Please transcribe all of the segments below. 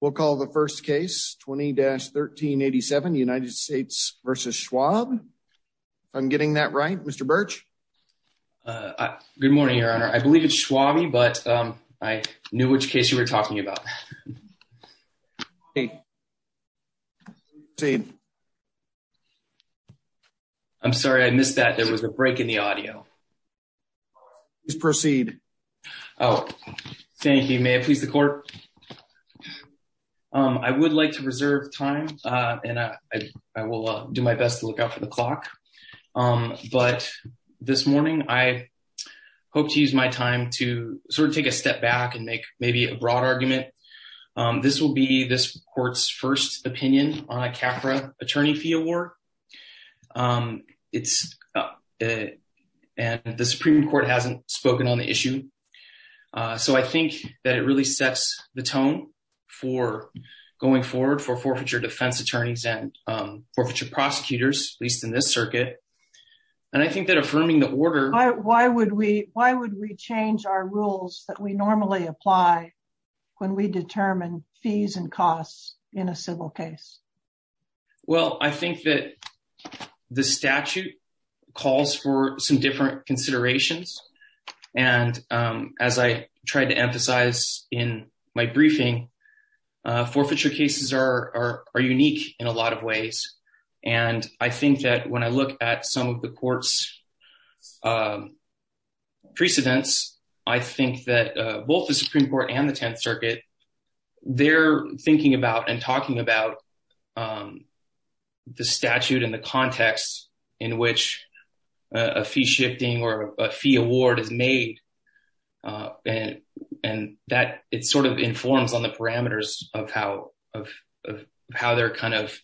We'll call the first case 20-1387 United States v. Schwabe. If I'm getting that right, Mr. Birch? Good morning, Your Honor. I believe it's Schwabe, but I knew which case you were talking about. Proceed. I'm sorry, I missed that. There was a break in the audio. Please proceed. Thank you. May I please the court? I would like to reserve time, and I will do my best to look out for the clock. But this morning, I hope to use my time to sort of take a step back and make maybe a broad argument. This will be this court's first opinion on a CAFRA attorney fee award. And the Supreme Court hasn't spoken on the issue. So I think that it really sets the tone for going forward for forfeiture defense attorneys and forfeiture prosecutors, at least in this circuit. And I think that affirming the order... Why would we change our rules that we normally apply when we determine fees and costs in a civil case? Well, I think that the statute calls for some different considerations. And as I tried to emphasize in my briefing, forfeiture cases are unique in a lot of ways. And I think that when I look at some of the court's precedents, I think that both the Supreme Court and the Tenth Circuit, they're thinking about and talking about the statute and the context in which a fee shifting or a fee award is made. And that it sort of informs on the parameters of how of how they're kind of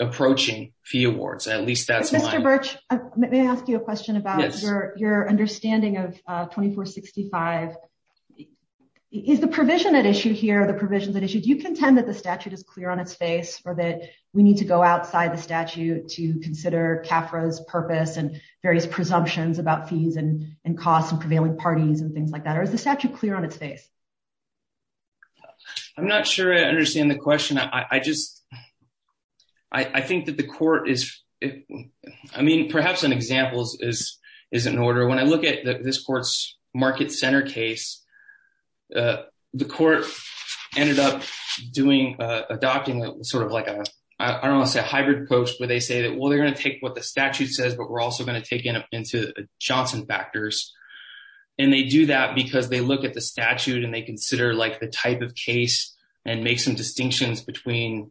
approaching fee awards. At least that's my... Mr. Birch, may I ask you a question about your understanding of 2465? Is the provision at issue here, the provisions at issue? Do you contend that the statute is clear on its face or that we need to go outside the statute to consider CAFRA's purpose and various presumptions about fees and costs and prevailing parties and things like that? Or is the statute clear on its face? I'm not sure I understand the question. I just... I think that the court is... I mean, perhaps an example is an order. When I look at this court's Market Center case, the court ended up doing a document sort of like a... I don't want to say a hybrid post where they say that, well, they're going to take what the statute says, but we're also going to take it up into Johnson factors. And they do that because they look at the statute and they consider like the type of case and make some distinctions between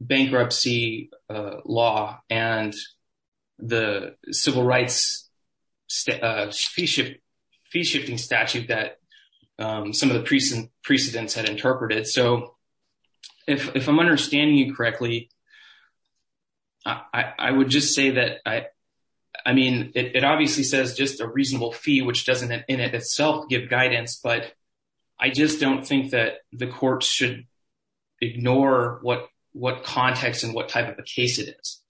bankruptcy law and the civil rights fee shifting statute that some of the precedents had interpreted. So if I'm understanding you correctly, I would just say that, I mean, it obviously says just a reasonable fee, which doesn't in itself give guidance, but I just don't think that the court should ignore what context and what type of a case it is.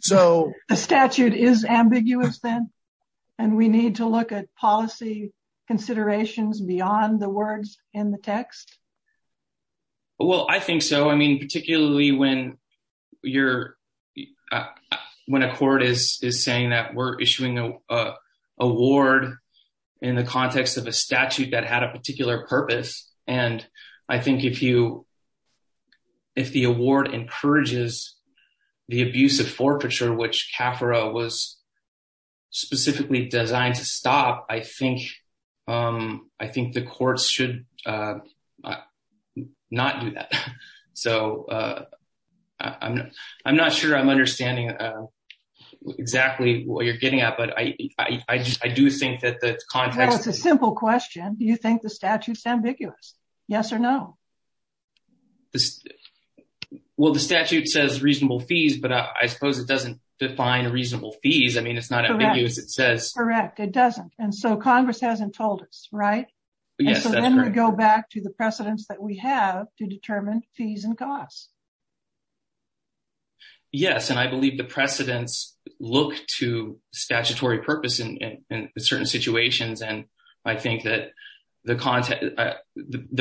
So the statute is ambiguous then? And we need to look at policy considerations beyond the words in the text? Well, I think so. I mean, particularly when a court is saying that we're issuing an award in the context of a statute that had a particular purpose. And I think if the award encourages the abuse of forfeiture, which CAFRA was specifically designed to stop, I think the courts should not do that. So I'm not sure I'm understanding exactly what you're getting at, but I do think that the context... Yes or no? Well, the statute says reasonable fees, but I suppose it doesn't define reasonable fees. I mean, it's not as ambiguous as it says. Correct. It doesn't. And so Congress hasn't told us, right? Yes, that's correct. And so then we go back to the precedents that we have to determine fees and costs. Yes, and I believe the precedents look to statutory purpose in certain situations. And I think that the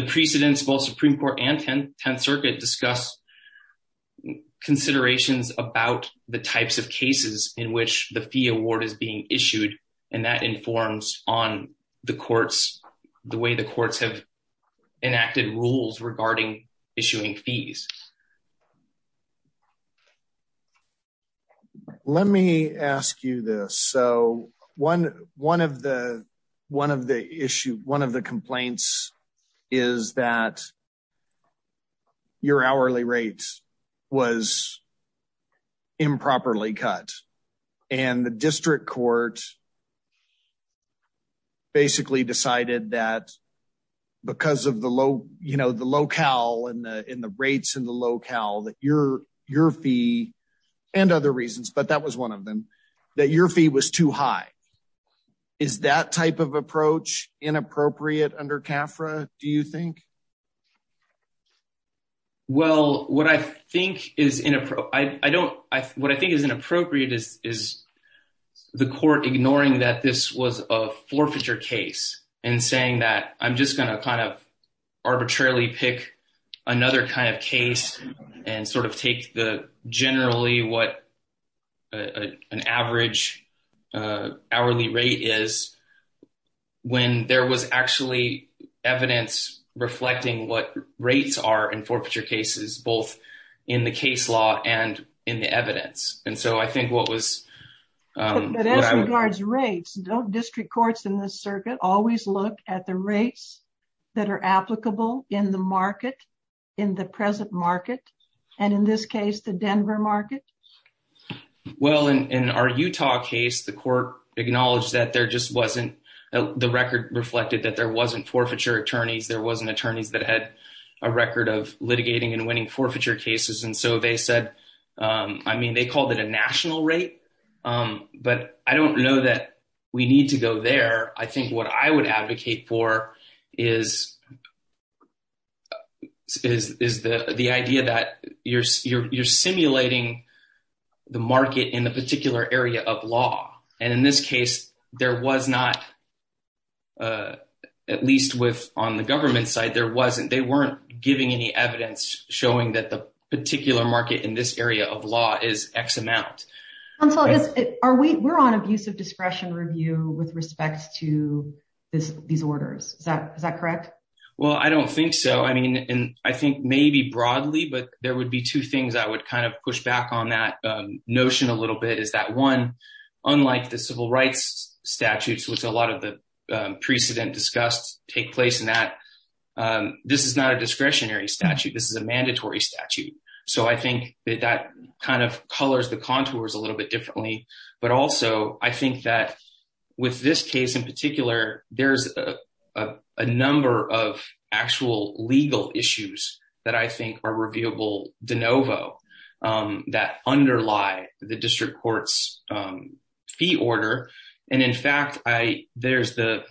precedents of both Supreme Court and 10th Circuit discuss considerations about the types of cases in which the fee award is being issued. And that informs on the courts, the way the courts have enacted rules regarding issuing fees. Let me ask you this. One of the complaints is that your hourly rate was improperly cut. And the district court basically decided that because of the locale and the rates in the locale that your fee, and other reasons, but that was one of them, that your fee was too high. Is that type of approach inappropriate under CAFRA, do you think? Well, what I think is inappropriate is the court ignoring that this was a forfeiture case and saying that I'm just going to kind of arbitrarily pick another kind of case and sort of take the generally what an average hourly rate is. When there was actually evidence reflecting what rates are in forfeiture cases, both in the case law and in the evidence. And so I think what was... But as regards rates, don't district courts in this circuit always look at the rates that are applicable in the market, in the present market, and in this case, the Denver market? Well, in our Utah case, the court acknowledged that there just wasn't... The record reflected that there wasn't forfeiture attorneys, there wasn't attorneys that had a record of litigating and winning forfeiture cases. And so they said, I mean, they called it a national rate. But I don't know that we need to go there. I think what I would advocate for is the idea that you're simulating the market in a particular area of law. And in this case, there was not, at least on the government side, there wasn't. They weren't giving any evidence showing that the particular market in this area of law is X amount. We're on abusive discretion review with respect to these orders. Is that correct? Well, I don't think so. I mean, I think maybe broadly, but there would be two things I would kind of push back on that notion a little bit is that one, unlike the civil rights statutes, which a lot of the precedent discussed take place in that, this is not a discretionary statute. This is a mandatory statute. So I think that kind of colors the contours a little bit differently. But also, I think that with this case in particular, there's a number of actual legal issues that I think are reviewable de novo that underlie the district court's fee order. And in fact, there's the,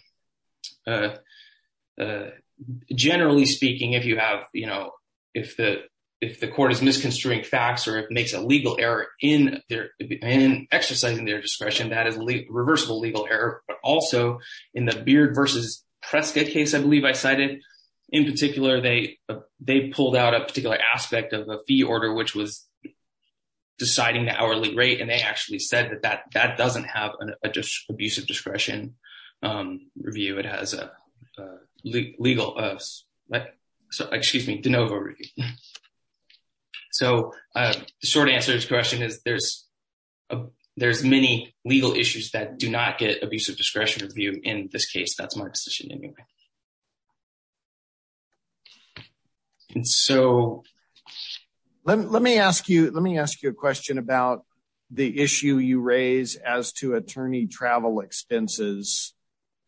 generally speaking, if you have, you know, if the court is misconstruing facts or it makes a legal error in exercising their discretion, that is reversible legal error. But also, in the Beard versus Prescott case, I believe I cited, in particular, they pulled out a particular aspect of a fee order, which was deciding the hourly rate. And they actually said that that doesn't have an abusive discretion review. It has a legal, excuse me, de novo review. So the short answer to this question is there's many legal issues that do not get abusive discretion review. In this case, that's my decision anyway. So let me ask you, let me ask you a question about the issue you raise as to attorney travel expenses.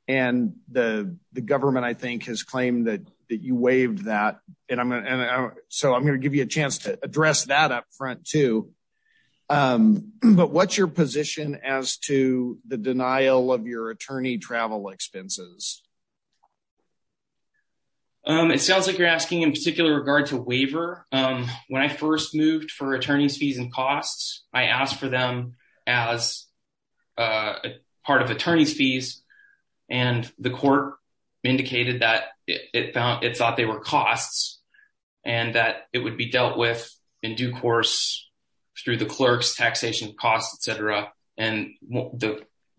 And the government, I think, has claimed that you waived that. And so I'm going to give you a chance to address that up front, too. But what's your position as to the denial of your attorney travel expenses? It sounds like you're asking in particular regard to waiver. When I first moved for attorney's fees and costs, I asked for them as part of attorney's fees. And the court indicated that it thought they were costs and that it would be dealt with in due course through the clerk's taxation costs, et cetera. And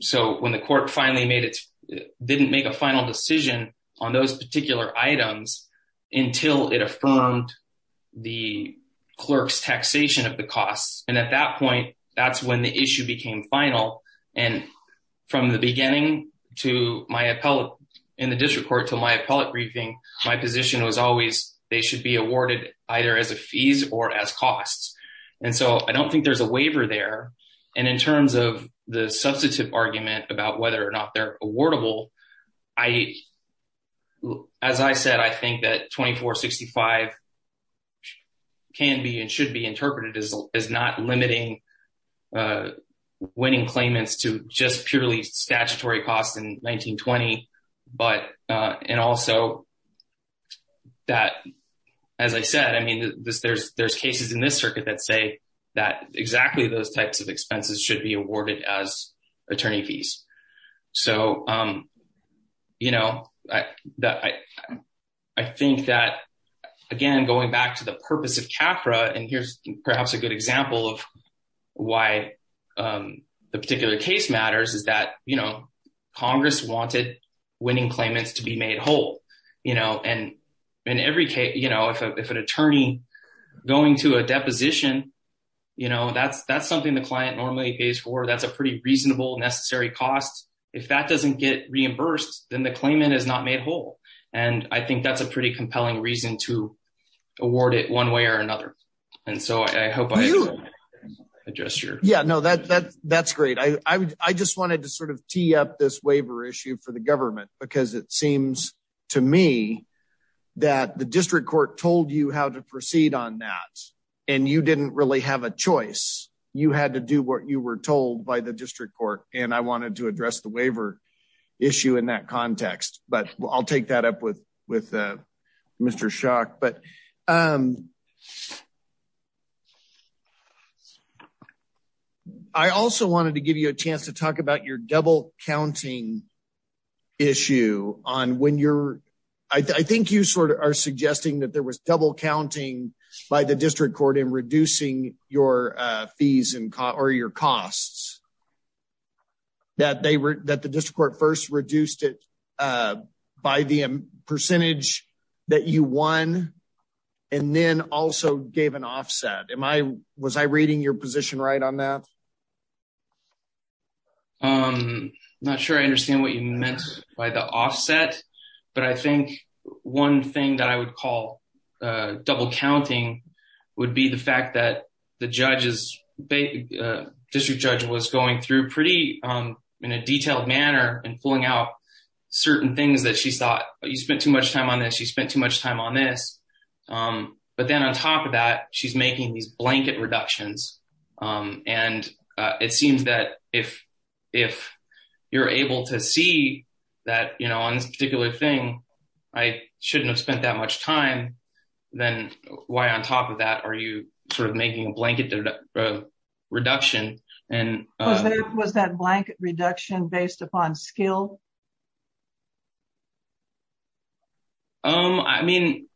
so when the court finally made it, didn't make a final decision on those particular items until it affirmed the clerk's taxation of the costs. And at that point, that's when the issue became final. And from the beginning to my appellate in the district court to my appellate briefing, my position was always they should be awarded either as a fees or as costs. And so I don't think there's a waiver there. And in terms of the substantive argument about whether or not they're awardable, as I said, I think that 2465 can be and should be interpreted as not limiting winning claimants to just purely statutory costs in 1920. But and also that, as I said, I mean, there's cases in this circuit that say that exactly those types of expenses should be awarded as attorney fees. So, you know, I think that, again, going back to the purpose of CAFRA and here's perhaps a good example of why the particular case matters is that, you know, Congress wanted winning claimants to be made whole, you know, and in every case, you know, if an attorney going to a deposition, you know, that's that's something the client normally pays for. That's a pretty reasonable necessary cost. If that doesn't get reimbursed, then the claimant is not made whole. And I think that's a pretty compelling reason to award it one way or another. And so I hope I adjust your. Yeah, no, that's great. I just wanted to sort of tee up this waiver issue for the government, because it seems to me that the district court told you how to proceed on that. And you didn't really have a choice. You had to do what you were told by the district court. And I wanted to address the waiver issue in that context. But I'll take that up with with Mr. Shock. But I also wanted to give you a chance to talk about your double counting issue on when you're I think you sort of are suggesting that there was double counting by the district court in reducing your fees or your costs. That they were that the district court first reduced it by the percentage that you won and then also gave an offset. Am I was I reading your position right on that? I'm not sure I understand what you meant by the offset. But I think one thing that I would call double counting would be the fact that the judges district judge was going through pretty in a detailed manner and pulling out certain things that she thought you spent too much time on that. She spent too much time on this. But then on top of that, she's making these blanket reductions. And it seems that if if you're able to see that, you know, on this particular thing, I shouldn't have spent that much time. Then why on top of that, are you sort of making a blanket reduction? And was that blanket reduction based upon skill? I mean,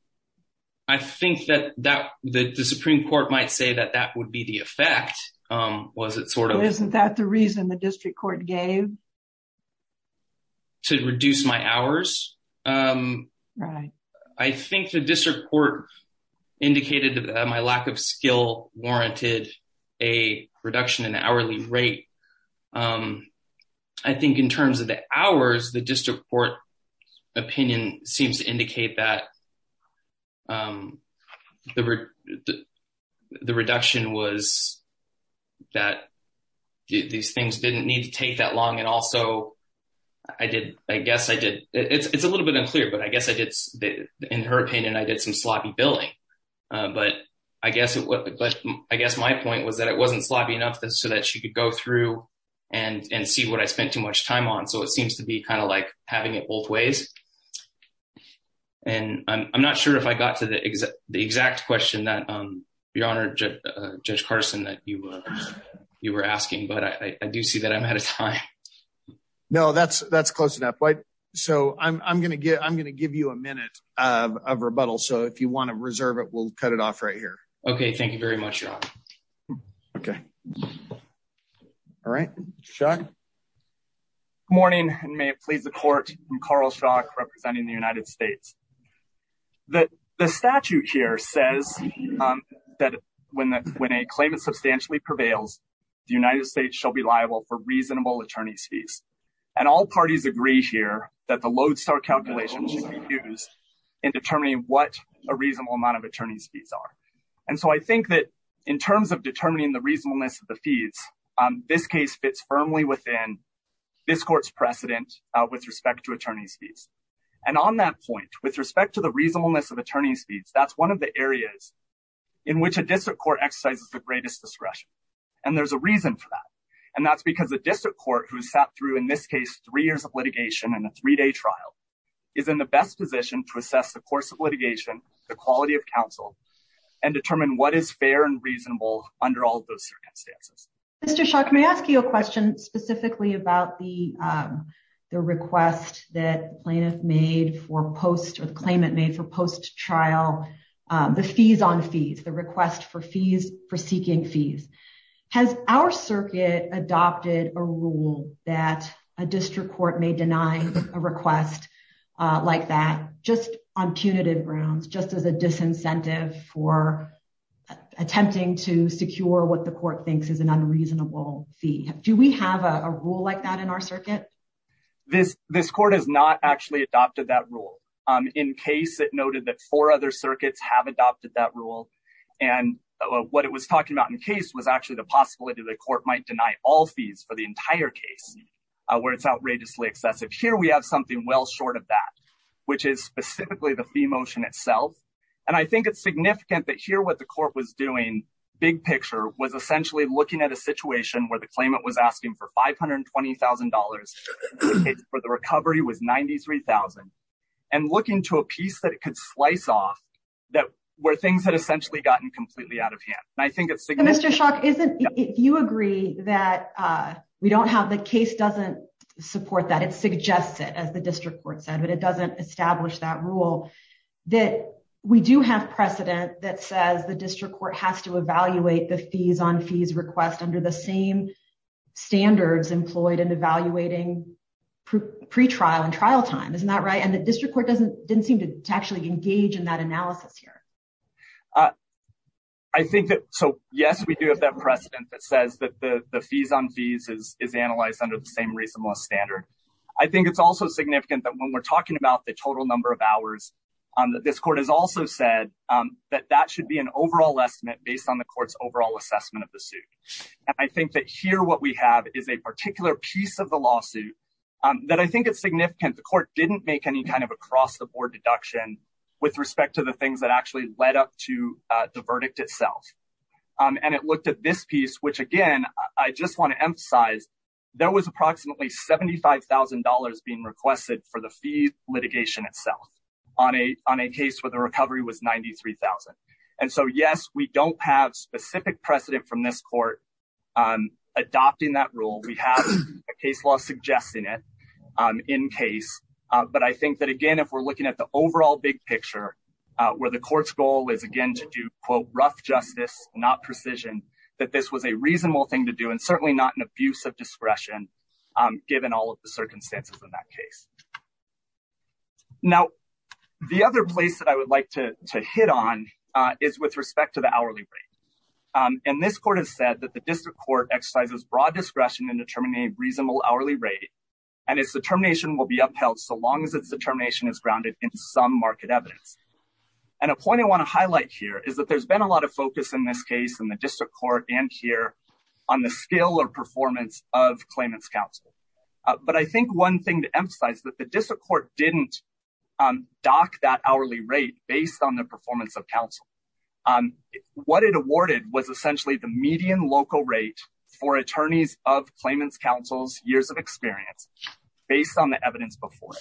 I think that that the Supreme Court might say that that would be the effect. Was it sort of isn't that the reason the district court gave to reduce my hours? Right. I think the district court indicated that my lack of skill warranted a reduction in hourly rate. I think in terms of the hours, the district court opinion seems to indicate that the reduction was that these things didn't need to take that long. I did. I guess I did. It's a little bit unclear, but I guess I did in her opinion. I did some sloppy billing, but I guess what I guess my point was that it wasn't sloppy enough so that she could go through and see what I spent too much time on. So it seems to be kind of like having it both ways. And I'm not sure if I got to the exact question that your honor, Judge Carson, that you were you were asking, but I do see that I'm out of time. No, that's that's close enough. So I'm going to get I'm going to give you a minute of rebuttal. So if you want to reserve it, we'll cut it off right here. OK, thank you very much. OK. All right. Good morning, and may it please the court. I'm Carl Shaw, representing the United States. That the statute here says that when that when a claim is substantially prevails, the United States shall be liable for reasonable attorney's fees. And all parties agree here that the lodestar calculation should be used in determining what a reasonable amount of attorney's fees are. And so I think that in terms of determining the reasonableness of the fees, this case fits firmly within this court's precedent with respect to attorney's fees. And on that point, with respect to the reasonableness of attorney's fees, that's one of the areas in which a district court exercises the greatest discretion. And there's a reason for that. And that's because the district court who sat through, in this case, three years of litigation and a three day trial is in the best position to assess the course of litigation, the quality of counsel and determine what is fair and reasonable under all those circumstances. Mr. Shaw, can I ask you a question specifically about the request that plaintiff made for post or the claimant made for post trial, the fees on fees, the request for fees for seeking fees. Has our circuit adopted a rule that a district court may deny a request like that just on punitive grounds, just as a disincentive for attempting to secure what the court thinks is an unreasonable fee. Do we have a rule like that in our circuit? This court has not actually adopted that rule. In case it noted that four other circuits have adopted that rule. And what it was talking about in case was actually the possibility that the court might deny all fees for the entire case where it's outrageously excessive. Here we have something well short of that, which is specifically the fee motion itself. And I think it's significant that here what the court was doing big picture was essentially looking at a situation where the claimant was asking for $520,000 for the recovery was 93,000. And looking to a piece that it could slice off that were things that essentially gotten completely out of hand. And I think it's Mr. If you agree that we don't have the case doesn't support that it suggests it as the district court said but it doesn't establish that rule that we do have precedent that says the district court has to evaluate the fees on fees request under the same standards employed and evaluating pre trial and trial time. Isn't that right and the district court doesn't didn't seem to actually engage in that analysis here. I think that. So, yes, we do have that precedent that says that the fees on fees is is analyzed under the same reasonable standard. I think it's also significant that when we're talking about the total number of hours on that this court has also said that that should be an overall estimate based on the courts overall assessment of the suit. I think that here what we have is a particular piece of the lawsuit that I think it's significant the court didn't make any kind of across the board deduction, with respect to the things that actually led up to the verdict itself. And it looked at this piece which again, I just want to emphasize, there was approximately $75,000 being requested for the fee litigation itself on a on a case where the recovery was 93,000. And so, yes, we don't have specific precedent from this court adopting that rule we have a case law suggesting it in case. But I think that again if we're looking at the overall big picture where the court's goal is again to do quote rough justice, not precision, that this was a reasonable thing to do and certainly not an abuse of discretion. Given all of the circumstances in that case. Now, the other place that I would like to hit on is with respect to the hourly rate. And this court has said that the district court exercises broad discretion and determine a reasonable hourly rate, and it's determination will be upheld so long as it's determination is grounded in some market evidence. And a point I want to highlight here is that there's been a lot of focus in this case in the district court and here on the skill or performance of claimants counsel. But I think one thing to emphasize that the district court didn't dock that hourly rate based on the performance of counsel. What it awarded was essentially the median local rate for attorneys of claimants counsel's years of experience, based on the evidence before.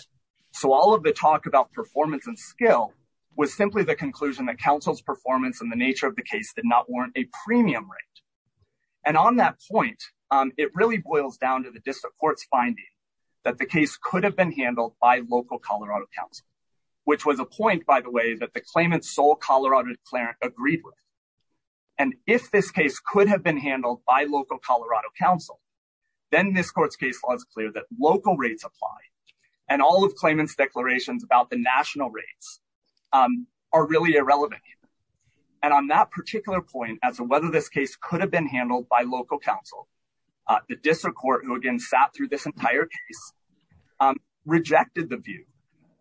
So all of the talk about performance and skill was simply the conclusion that counsel's performance and the nature of the case did not warrant a premium rate. And on that point, it really boils down to the district court's finding that the case could have been handled by local Colorado Council, which was a point, by the way, that the claimants sole Colorado declarant agreed with. And if this case could have been handled by local Colorado Council, then this court's case was clear that local rates apply and all of claimants declarations about the national rates are really irrelevant. And on that particular point, as to whether this case could have been handled by local counsel, the district court, who again sat through this entire case, rejected the view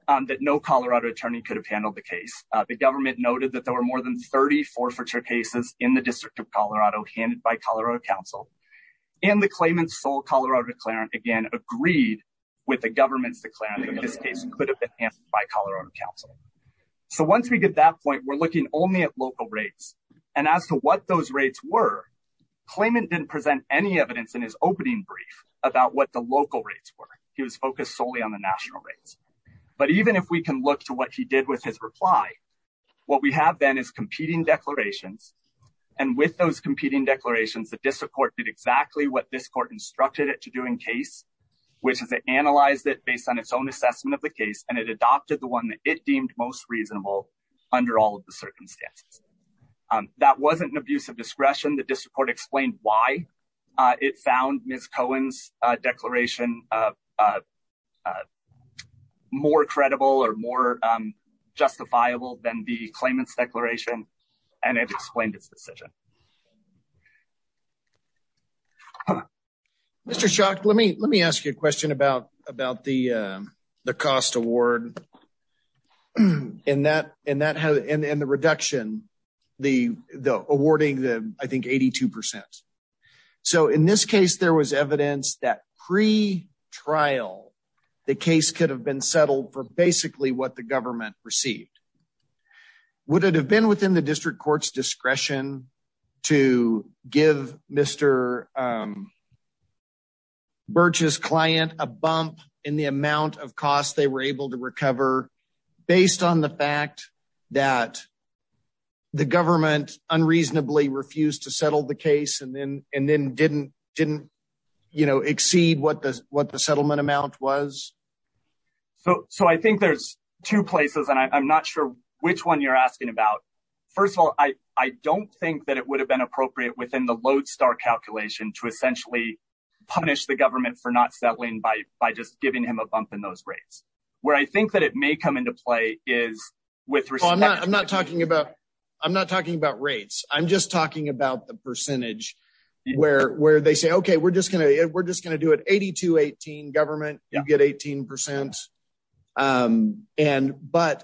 that no Colorado attorney could have handled the case. The government noted that there were more than 30 forfeiture cases in the District of Colorado handed by Colorado Council. And the claimants sole Colorado declarant again agreed with the government's declarant in this case could have been handled by Colorado Council. So once we get that point, we're looking only at local rates. And as to what those rates were, claimant didn't present any evidence in his opening brief about what the local rates were. He was focused solely on the national rates. But even if we can look to what he did with his reply, what we have then is competing declarations. And with those competing declarations, the district court did exactly what this court instructed it to do in case, which is it analyzed it based on its own assessment of the case and it adopted the one that it deemed most reasonable under all of the circumstances. That wasn't an abuse of discretion. The district court explained why it found Ms. Cohen's declaration more credible or more justifiable than the claimant's declaration and it explained its decision. Mr. Shock, let me let me ask you a question about about the cost award and that and that and the reduction, the awarding the I think 82%. So in this case, there was evidence that pre trial, the case could have been settled for basically what the government received. Would it have been within the district court's discretion to give Mr. Birch's client a bump in the amount of costs they were able to recover, based on the fact that the government unreasonably refused to settle the case and then and then didn't didn't, you know, exceed what the what the settlement amount was. So, so I think there's two places and I'm not sure which one you're asking about. First of all, I, I don't think that it would have been appropriate within the lodestar calculation to essentially punish the government for not settling by by just giving him a bump in those rates, where I think that it may come into play is with. I'm not I'm not talking about. I'm not talking about rates, I'm just talking about the percentage where where they say okay we're just going to we're just going to do it at 218 government, you get 18%. And, but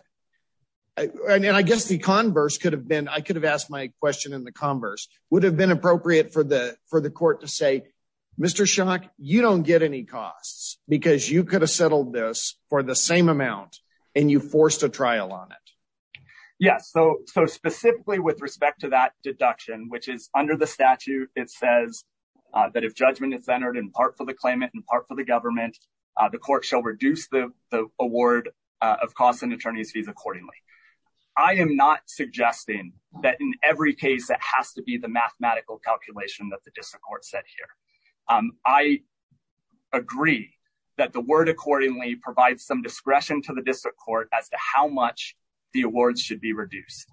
I mean I guess the converse could have been I could have asked my question in the converse would have been appropriate for the for the court to say, Mr shock, you don't get any costs, because you could have settled this for the same amount, and you forced a trial on it. Yes, so, so specifically with respect to that deduction which is under the statute, it says that if judgment is centered in part for the claimant and part for the government, the court shall reduce the award of costs and attorneys fees accordingly. I am not suggesting that in every case that has to be the mathematical calculation that the district court said here, I agree that the word accordingly provide some discretion to the district court as to how much the awards should be reduced.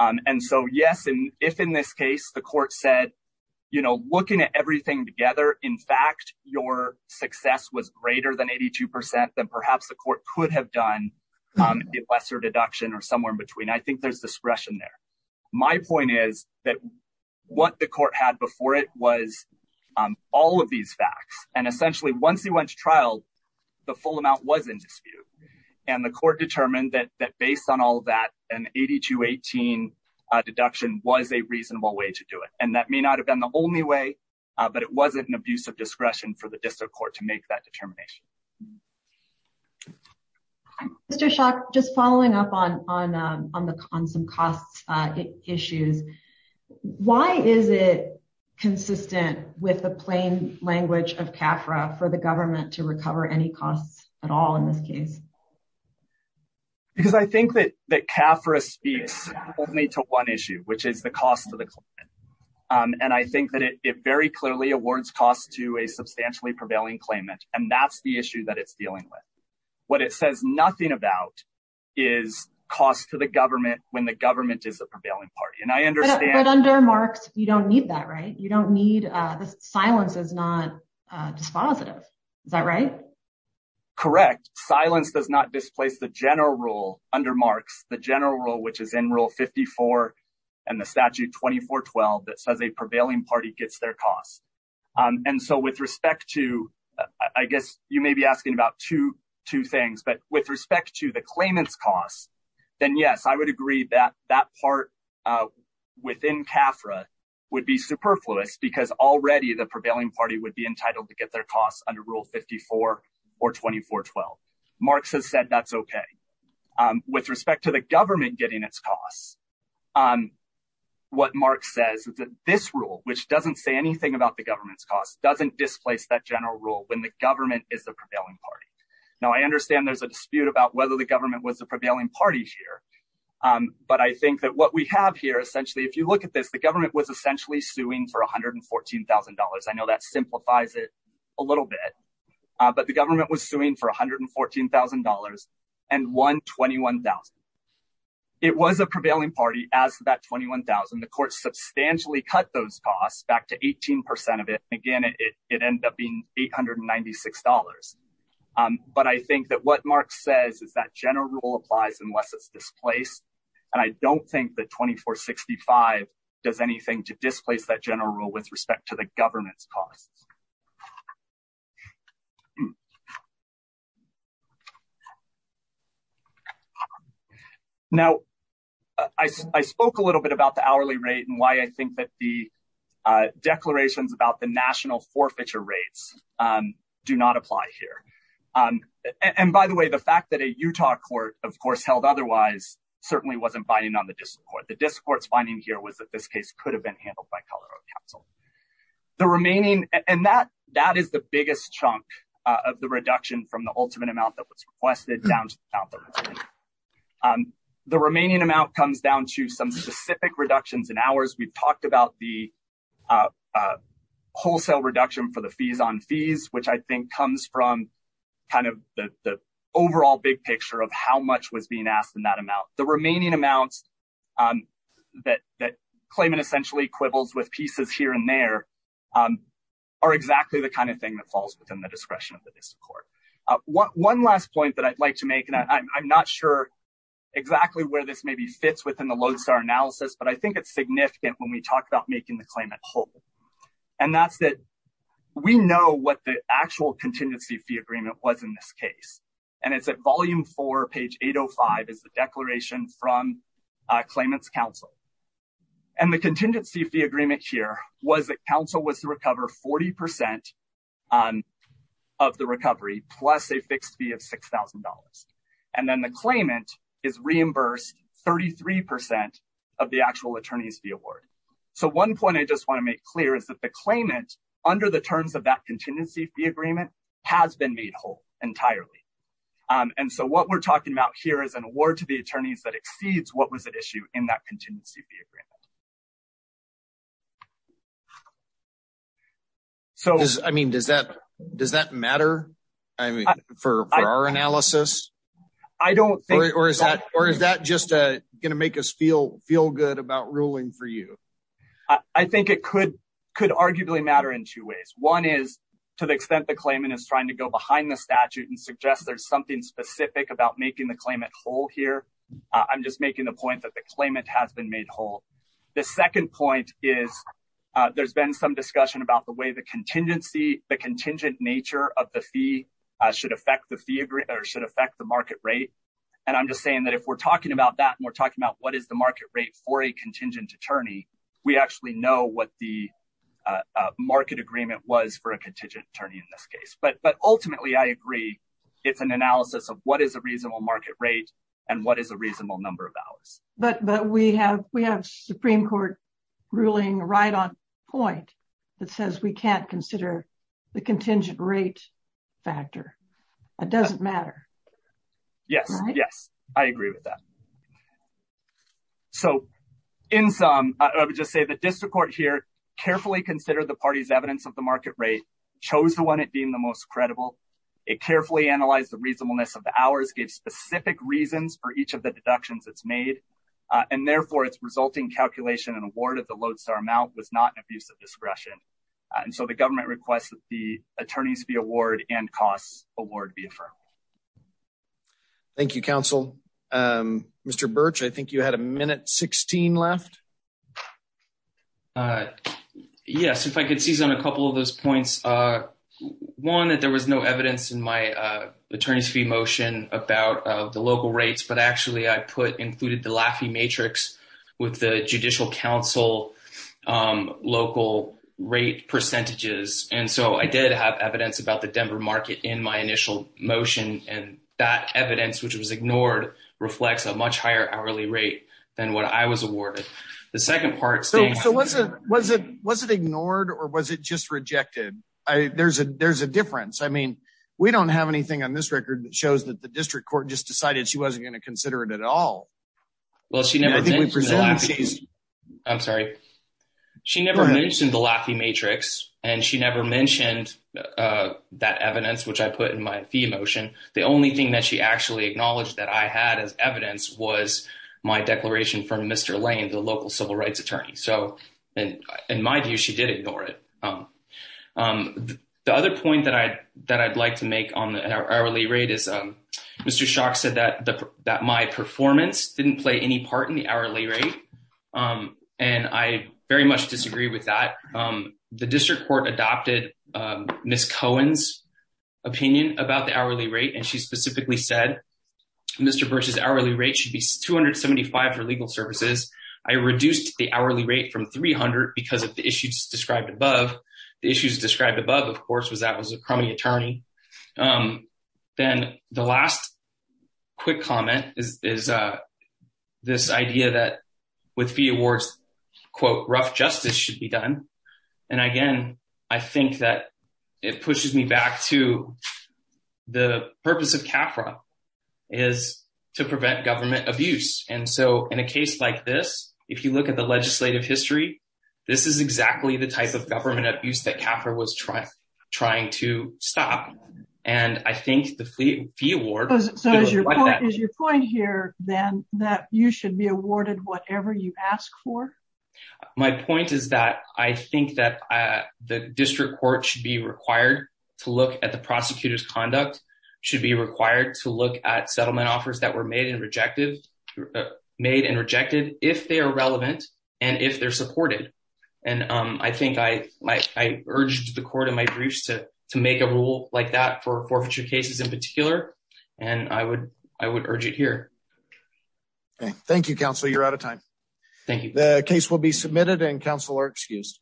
And so yes and if in this case the court said, you know, looking at everything together. In fact, your success was greater than 82%, then perhaps the court could have done the lesser deduction or somewhere in between I think there's discretion there. My point is that what the court had before it was all of these facts, and essentially once he went to trial. The full amount was in dispute. And the court determined that that based on all that, and at to 18 deduction was a reasonable way to do it, and that may not have been the only way, but it wasn't an abuse of discretion for the district court to make that determination. Just following up on on on the on some costs issues. Why is it consistent with the plain language of CAFRA for the government to recover any costs at all in this case, because I think that that CAFRA speaks to one issue, which is the cost of the. And I think that it very clearly awards costs to a substantially prevailing claimant, and that's the issue that it's dealing with what it says nothing about is cost to the government when the government is a prevailing party and I understand under marks, you don't need that right you don't need the silence is not dispositive. Correct silence does not displace the general rule under marks the general rule which is in rule 54, and the statute 2412 that says a prevailing party gets their costs. And so with respect to, I guess, you may be asking about two, two things but with respect to the claimants costs, then yes I would agree that that part within CAFRA would be superfluous because already the prevailing party would be entitled to get their costs under rule 54, or 2412 marks has said that's okay. With respect to the government getting its costs on what Mark says that this rule, which doesn't say anything about the government's costs doesn't displace that general rule when the government is the prevailing party. Now I understand there's a dispute about whether the government was the prevailing party here. But I think that what we have here essentially if you look at this the government was essentially suing for $114,000 I know that simplifies it a little bit, but the government was suing for $114,000 and 121,000. It was a prevailing party as that 21,000 the court substantially cut those costs back to 18% of it again it, it ended up being $896. But I think that what Mark says is that general rule applies unless it's displaced. And I don't think that 2465 does anything to displace that general rule with respect to the government's costs. Now, I spoke a little bit about the hourly rate and why I think that the declarations about the national forfeiture rates do not apply here. And by the way, the fact that a Utah court, of course held otherwise certainly wasn't buying on the discord the discourse finding here was that this case could have been handled by Colorado Council, the remaining, and that that is the biggest chunk of the reduction from the ultimate amount that was requested down. The remaining amount comes down to some specific reductions in hours we've talked about the wholesale reduction for the fees on fees, which I think comes from kind of the overall big picture of how much was being asked in that amount, the remaining amounts that that claiming essentially quibbles with pieces here and there are exactly the kind of thing that falls within the discretion of the court. One last point that I'd like to make and I'm not sure exactly where this may be fits within the Lodestar analysis, but I think it's significant when we talk about making the claimant whole. And that's that we know what the actual contingency fee agreement was in this case, and it's at volume for page 805 is the declaration from claimants Council, and the contingency fee agreement here was that Council was to recover 40% of the recovery, plus a fixed fee of $6,000. And then the claimant is reimbursed 33% of the actual attorneys fee award. So one point I just want to make clear is that the claimant under the terms of that contingency fee agreement has been made whole entirely. And so what we're talking about here is an award to the attorneys that exceeds what was at issue in that contingency fee agreement. So, I mean, does that does that matter. I mean, for our analysis. I don't think or is that or is that just going to make us feel feel good about ruling for you. I think it could could arguably matter in two ways. One is to the extent the claimant is trying to go behind the statute and suggest there's something specific about making the claimant whole here. I'm just making the point that the claimant has been made whole. The second point is, there's been some discussion about the way the contingency, the contingent nature of the fee should affect the fee or should affect the market rate. And I'm just saying that if we're talking about that and we're talking about what is the market rate for a contingent attorney, we actually know what the market agreement was for a contingent attorney in this case but but ultimately I agree. It's an analysis of what is a reasonable market rate, and what is a reasonable number of hours, but but we have, we have Supreme Court ruling right on point that says we can't consider the contingent rate factor. It doesn't matter. Yes, yes, I agree with that. So, in sum, I would just say the district court here carefully consider the party's evidence of the market rate chose the one it being the most credible it carefully analyze the reasonableness of the hours give specific reasons for each of the deductions it's made. And therefore it's resulting calculation and award of the load star amount was not an abuse of discretion. And so the government requests that the attorneys be award and costs award be affirmed. Thank you, counsel. Mr. Birch I think you had a minute 16 left. Yes, if I could seize on a couple of those points. One that there was no evidence in my attorneys fee motion about the local rates, but actually I put included the laughing matrix with the judicial council local rate percentages. And so I did have evidence about the Denver market in my initial motion and that evidence, which was ignored reflects a much higher hourly rate than what I was awarded. The second part. So, so was it was it was it ignored or was it just rejected. I there's a there's a difference. I mean, we don't have anything on this record that shows that the district court just decided she wasn't going to consider it at all. Well, she never I'm sorry. She never mentioned the laughing matrix, and she never mentioned that evidence, which I put in my emotion. The only thing that she actually acknowledged that I had as evidence was my declaration from Mr. Lane, the local civil rights attorney. So, in my view, she did ignore it. The other point that I that I'd like to make on the hourly rate is Mr. Shock said that that my performance didn't play any part in the hourly rate. And I very much disagree with that. The district court adopted Miss Cohen's opinion about the hourly rate and she specifically said, Mr versus hourly rate should be 275 for legal services. I reduced the hourly rate from 300 because of the issues described above the issues described above of course was that was a crummy attorney. Then the last quick comment is, is this idea that with the awards, quote, rough justice should be done. And again, I think that it pushes me back to the purpose of Capra is to prevent government abuse. And so, in a case like this, if you look at the legislative history. This is exactly the type of government abuse that Capra was trying to stop. And I think the fee award. Is your point here, then, that you should be awarded whatever you ask for. My point is that I think that the district court should be required to look at the prosecutors conduct should be required to look at settlement offers that were made and rejected, made and rejected, if they are relevant, and if they're supported. And I think I like I urged the court in my briefs to to make a rule like that for forfeiture cases in particular, and I would, I would urge it here. Thank you counsel you're out of time. Thank you. The case will be submitted and counselor excuse.